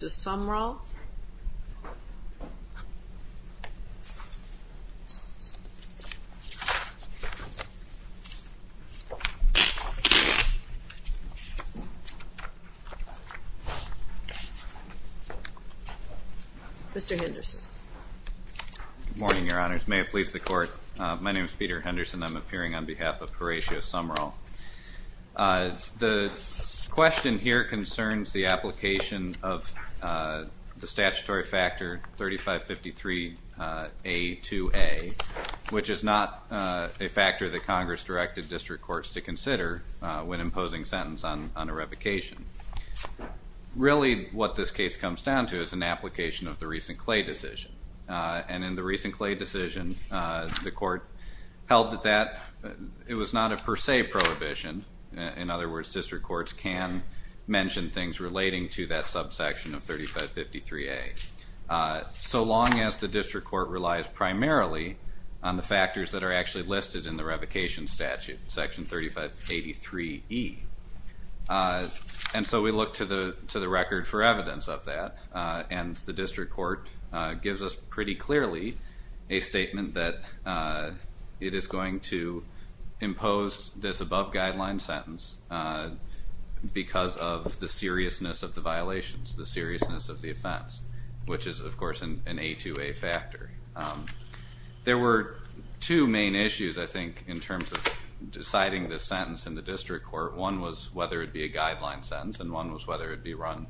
Mr. Henderson. Good morning, Your Honors. May it please the Court, my name is Peter Henderson. I'm appearing on behalf of Horatio Sumrall. The question here concerns the application of the statutory factor 3553A2A, which is not a factor that Congress directed district courts to consider when imposing sentence on a revocation. Really, what this case comes down to is an application of the recent Clay decision. And in the recent Clay decision, the Court held that it was not a per se prohibition. In other words, district courts can mention things relating to that subsection of 3553A, so long as the district court relies primarily on the factors that are actually listed in the revocation statute, section 3583E. And so we look to the record for evidence of that, and the district court gives us of the seriousness of the violations, the seriousness of the offense, which is, of course, an A2A factor. There were two main issues, I think, in terms of deciding the sentence in the district court. One was whether it would be a guideline sentence, and one was whether it would be run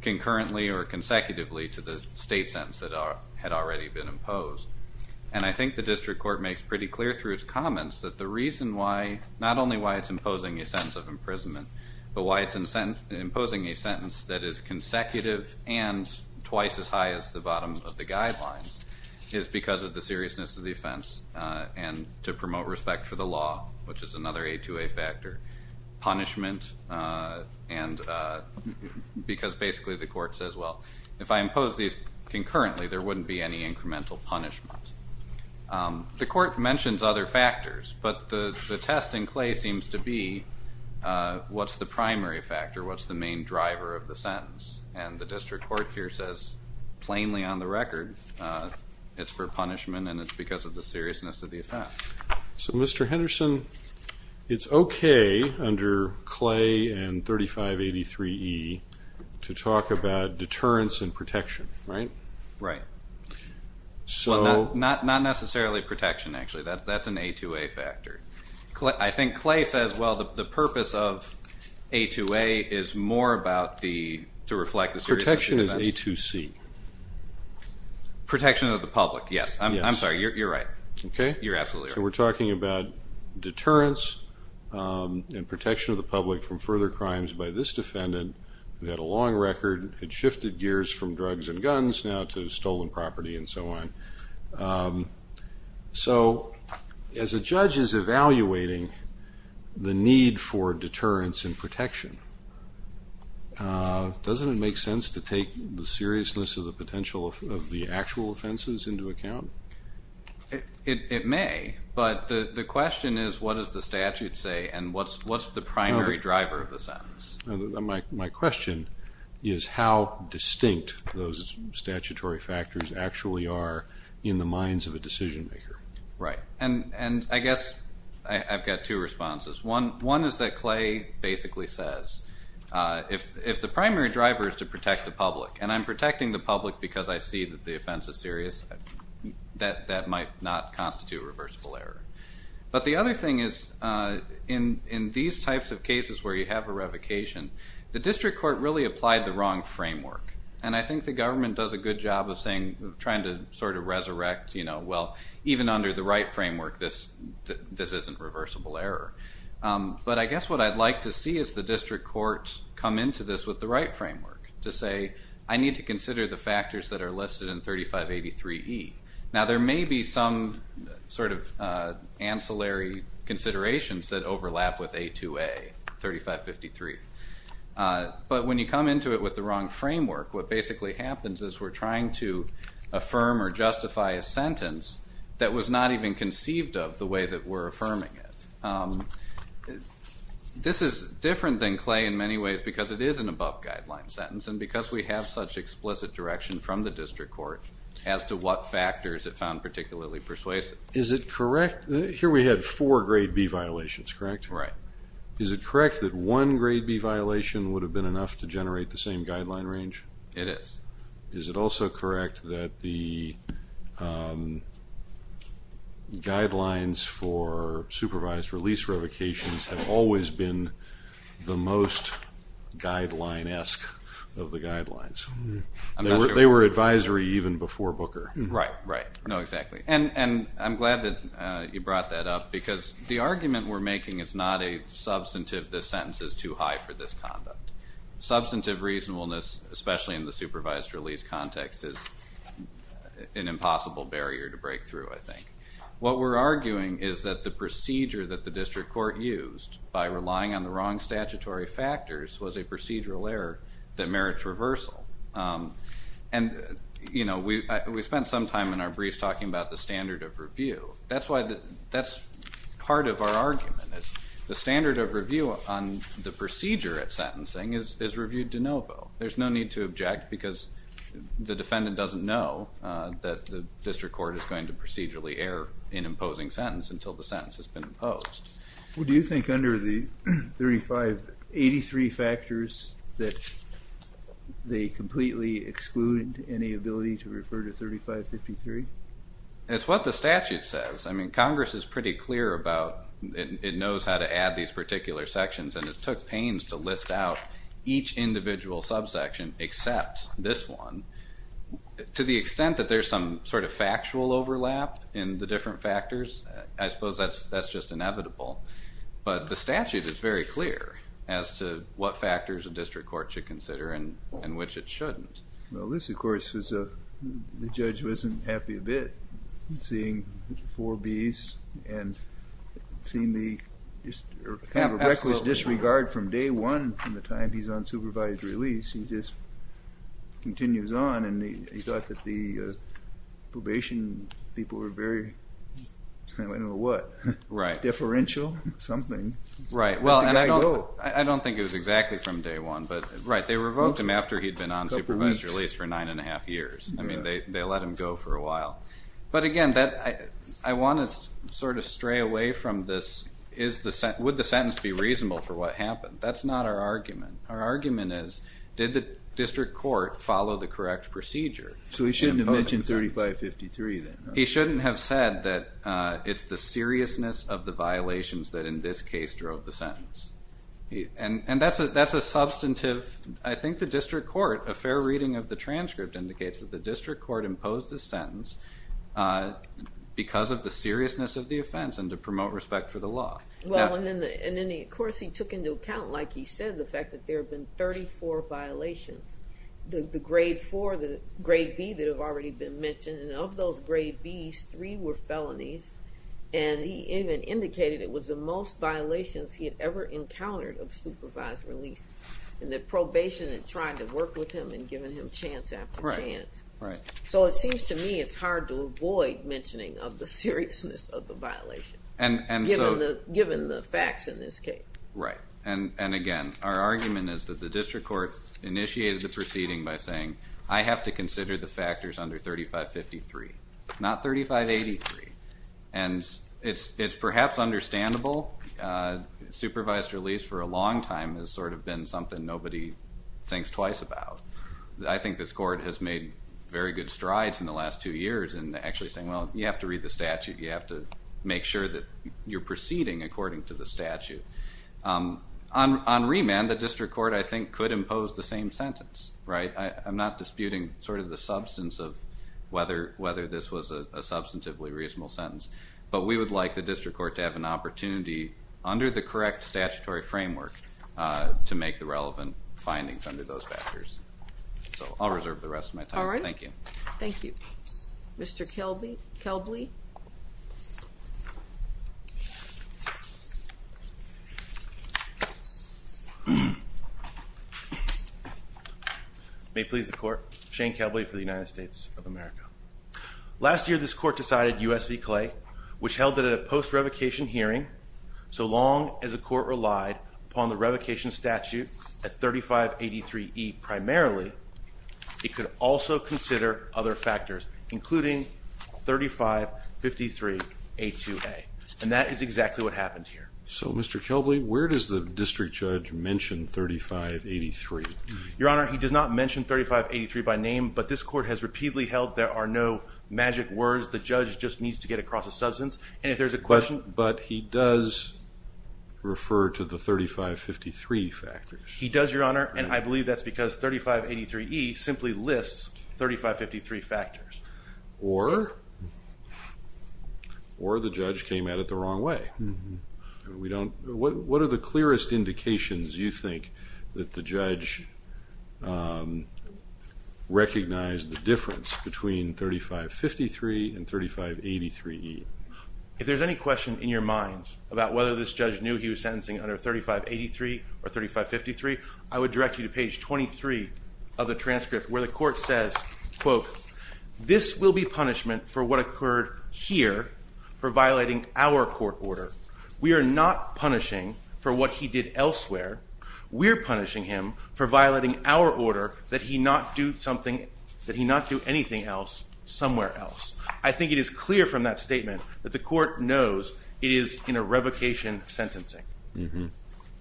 concurrently or consecutively to the state sentence that had already been imposed. And I think the district court makes pretty clear through its comments that the reason why, not only why it's an imprisonment, but why it's imposing a sentence that is consecutive and twice as high as the bottom of the guidelines, is because of the seriousness of the offense and to promote respect for the law, which is another A2A factor. Punishment, because basically the court says, well, if I impose these concurrently, there wouldn't be any incremental punishment. The court mentions other factors, but the test in Clay seems to be what's the primary factor, what's the main driver of the sentence. And the district court here says, plainly on the record, it's for punishment and it's because of the seriousness of the offense. So, Mr. Henderson, it's okay under Clay and 3583E to talk about deterrence and protection, right? Right. Well, not necessarily protection, actually. That's an A2A factor. I think Clay says, well, the purpose of A2A is more about the, to reflect the seriousness of the offense. Protection is A2C. Protection of the public, yes. I'm sorry, you're right. Okay. You're absolutely right. So we're talking about deterrence and protection of the public from further crimes by this defendant. We had a long record, had shifted gears from drugs and guns now to stolen property and so on. So, as a judge is evaluating the need for deterrence and protection, doesn't it make sense to take the seriousness of the potential of the actual offenses into account? It may, but the question is, what does the statute say and what's the primary driver of the sentence? My question is how distinct those statutory factors actually are in the minds of a decision maker. Right. And I guess I've got two responses. One is that Clay basically says, if the primary driver is to protect the public, and I'm protecting the public because I see that the offense is serious, that might not constitute reversible error. But the other thing is, in these types of cases where you have a revocation, the district court really applied the wrong framework. And I think the government does a good job of saying, trying to sort of resurrect, well, even under the right framework, this isn't reversible error. But I guess what I'd like to see is the district court come into this with the right framework to say, I need to consider the factors that are listed in 3583E. Now there may be some sort of ancillary considerations that overlap with A2A, 3553. But when you come into it with the wrong framework, what basically happens is we're trying to affirm or justify a sentence that was not even conceived of the way that we're affirming it. This is different than Clay in many ways because it is an above guideline sentence and because we have such explicit direction from the district court as to what factors it found particularly persuasive. Is it correct, here we had four grade B violations, correct? Right. Is it correct that one grade B violation would have been enough to generate the same guideline range? It is. Is it also correct that the guidelines for supervised release revocations have always been the most guideline-esque of the guidelines? They were advisory even before Booker. Right, right. No, exactly. And I'm glad that you brought that up because the argument we're making is not a substantive, this sentence is too high for this conduct. Substantive reasonableness, especially in the supervised release context, is an impossible barrier to break through, I think. What we're arguing is that the procedure that the district court used by relying on the wrong statutory factors was a procedural error that merits reversal. And we spent some time in our briefs talking about the standard of review. That's part of our argument. The standard of review on the procedure at sentencing is reviewed de novo. There's no need to object because the defendant doesn't know that the district court is going to procedurally err in imposing sentence until the sentence has been imposed. Do you think under the 3583 factors that they completely excluded any ability to refer to 3553? It's what the statute says. I mean, Congress is pretty clear about, it knows how to add these particular sections, and it took pains to list out each individual subsection except this one. To the extent that there's some sort of factual overlap in the different factors, I suppose that's just inevitable. But the statute is very clear as to what factors a district court should consider and which it shouldn't. Well, this of course, the judge wasn't happy a bit, seeing four Bs and seeing the reckless disregard from day one from the time he's on supervised release. He just continues on, and he thought that the probation people were very, I don't know what, deferential, something. Right. Well, I don't think it was exactly from day one, but right, they revoked him after he'd been on supervised release for nine and a half years. I mean, they let him go for a while. But again, I want to sort of stray away from this, would the sentence be reasonable for what happened? That's not our argument. Our argument is, did the district court follow the correct procedure? So he shouldn't have mentioned 3553 then? He shouldn't have said that it's the seriousness of the violations that in this case drove the sentence. And that's a substantive, I think the district court, a fair reading of the transcript indicates that the district court imposed the sentence because of the seriousness of the offense and to promote respect for the law. Well, and then of course he took into account, like he said, the fact that there have been 34 violations. The grade four, the grade B that have already been mentioned, and of those grade Bs, three were felonies. And he even indicated it was the most violations he had ever encountered of supervised release. And the probation had tried to work with him and given him chance after chance. Right. So it seems to me it's hard to avoid mentioning of the seriousness of the violation. Given the facts in this case. Right. And again, our argument is that the district court initiated the proceeding by saying, I have to consider the factors under 3553, not 3583. And it's perhaps understandable, supervised release for a long time has sort of been something nobody thinks twice about. I think this court has made very good strides in the last two years in actually saying, well, you have to read the statute. You have to make sure that you're proceeding according to the statute. On remand, the district court, I think, could impose the same sentence, right? I'm not disputing sort of the substance of whether this was a substantively reasonable sentence. But we would like the district court to have an opportunity under the correct statutory framework to make the relevant findings under those factors. So I'll reserve the rest of my time. All right. Thank you. Thank you. Mr. Kelby. May it please the court. Shane Kelby for the United States of America. Last year, this court decided US v Clay, which held it at a post-revocation hearing. So long as a court relied upon the revocation statute at 3583E primarily, it could also consider other factors, including 3553A2A. And that is exactly what happened here. So Mr. Kelby, where does the district judge mention 3583? Your Honor, he does not mention 3583 by name, but this court has repeatedly held there are no magic words. The judge just needs to get across a substance. And if there's a question- But he does refer to the 3553 factors. He does, Your Honor. And I believe that's because 3583E simply lists 3553 factors. Or the judge came at it the wrong way. What are the clearest indications you think that the judge recognized the difference between 3553 and 3583E? If there's any question in your minds about whether this judge knew he was sentencing under 3583 or 3553, I would direct you to page 23 of the transcript where the court says, quote, this will be punishment for what occurred here for violating our court order. We are not punishing for what he did elsewhere. We're punishing him for violating our order that he not do something, that he not do anything else somewhere else. I think it is clear from that statement that the court knows it is in a revocation sentencing.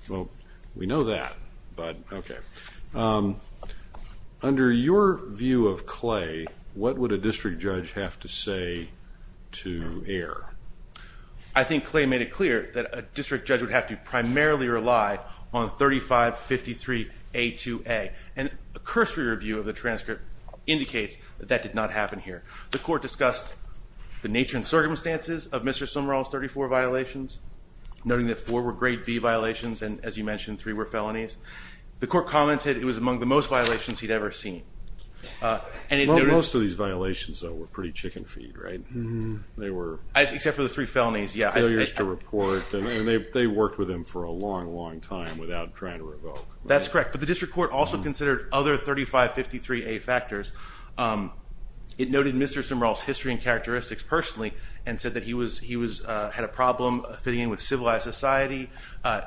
Well, we know that, but okay. Under your view of Clay, what would a district judge have to say to err? I think Clay made it clear that a district judge would have to primarily rely on 3553A2A. And a cursory review of the transcript indicates that that did not happen here. The court discussed the nature and circumstances of Mr. Sumrall's 34 violations. Noting that four were grade B violations, and as you mentioned, three were felonies. The court commented it was among the most violations he'd ever seen. And it noted- Most of these violations, though, were pretty chicken feed, right? They were- Except for the three felonies, yeah. Failures to report, and they worked with him for a long, long time without trying to revoke. That's correct, but the district court also considered other 3553A factors. It noted Mr. Sumrall's history and characteristics personally and said that he had a problem fitting in with civilized society.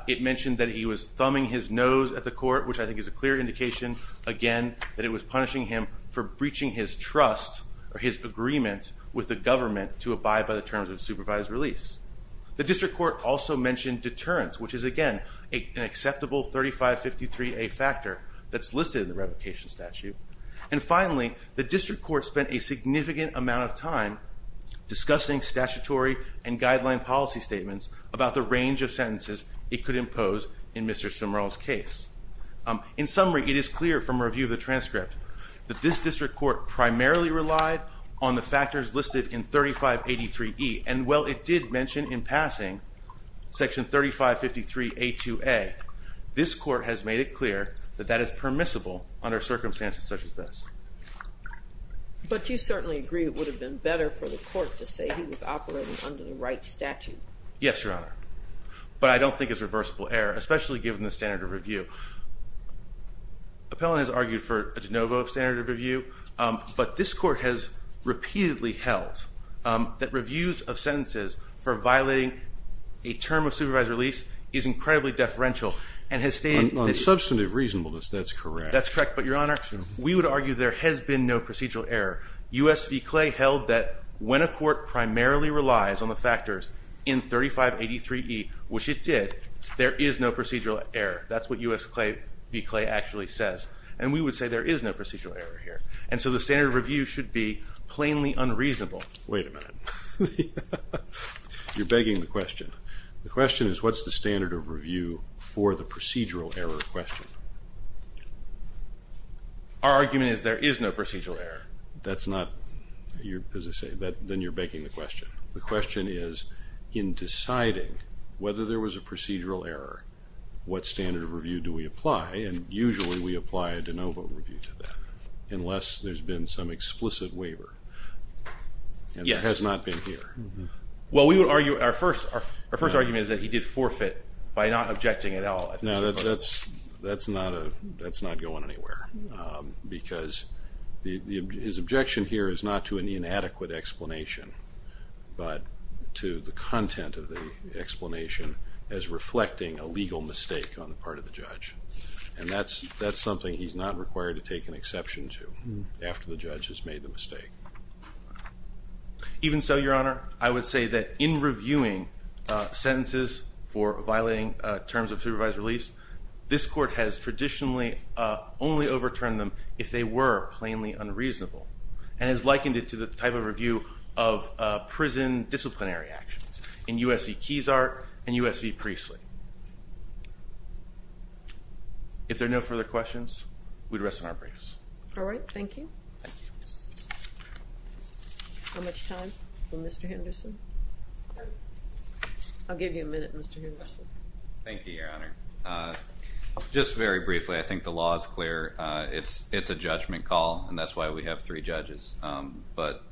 It mentioned that he was thumbing his nose at the court, which I think is a clear indication, again, that it was punishing him for breaching his trust or his agreement with the government to abide by the terms of supervised release. The district court also mentioned deterrence, which is, again, an acceptable 3553A factor that's listed in the revocation statute. And finally, the district court spent a significant amount of time discussing statutory and guideline policy statements about the range of sentences it could impose in Mr. Sumrall's case. In summary, it is clear from review of the transcript that this district court primarily relied on the factors listed in 3583E, and while it did mention in passing section 3553A2A, this court has made it clear that that is permissible under circumstances such as this. But you certainly agree it would have been better for the court to say he was operating under the right statute. Yes, Your Honor. But I don't think it's reversible error, especially given the standard of review. Appellant has argued for a de novo standard of review, but this court has repeatedly held that reviews of sentences for violating a term of supervised release is incredibly deferential and has stated- On substantive reasonableness, that's correct. That's correct. But, Your Honor, we would argue there has been no procedural error. U.S. v. Clay held that when a court primarily relies on the factors in 3583E, which it did, there is no procedural error. That's what U.S. v. Clay actually says. And we would say there is no procedural error here. And so the standard of review should be plainly unreasonable. Wait a minute. You're begging the question. The question is, what's the standard of review for the procedural error question? Our argument is there is no procedural error. That's not, as I say, then you're begging the question. The question is, in deciding whether there was a procedural error, what standard of review do we apply, and usually we apply a de novo review to that. Unless there's been some explicit waiver. Yes. And it has not been here. Well, we would argue, our first argument is that he did forfeit by not objecting at all. No, that's not going anywhere. Because his objection here is not to an inadequate explanation, but to the content of the explanation as reflecting a legal mistake on the part of the judge. And that's something he's not required to take an exception to, after the judge has made the mistake. Even so, your honor, I would say that in reviewing sentences for violating terms of supervised release, this court has traditionally only overturned them if they were plainly unreasonable, and has likened it to the type of review of prison disciplinary actions in U.S. v. Keysart and U.S. v. Priestley. If there are no further questions, we'd rest in our briefs. All right, thank you. How much time for Mr. Henderson? I'll give you a minute, Mr. Henderson. Thank you, your honor. Just very briefly, I think the law is clear. It's a judgment call, and that's why we have three judges. But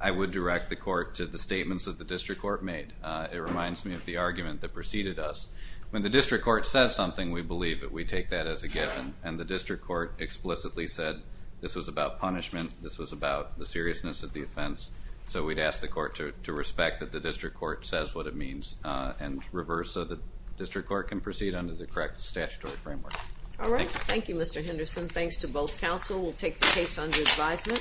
I would direct the court to the statements that the district court made. It reminds me of the argument that preceded us. When the district court says something, we believe it. We take that as a given. And the district court explicitly said this was about punishment. This was about the seriousness of the offense. So we'd ask the court to respect that the district court says what it means, and reverse so the district court can proceed under the correct statutory framework. All right, thank you, Mr. Henderson. Thanks to both counsel. We'll take the case under advisement.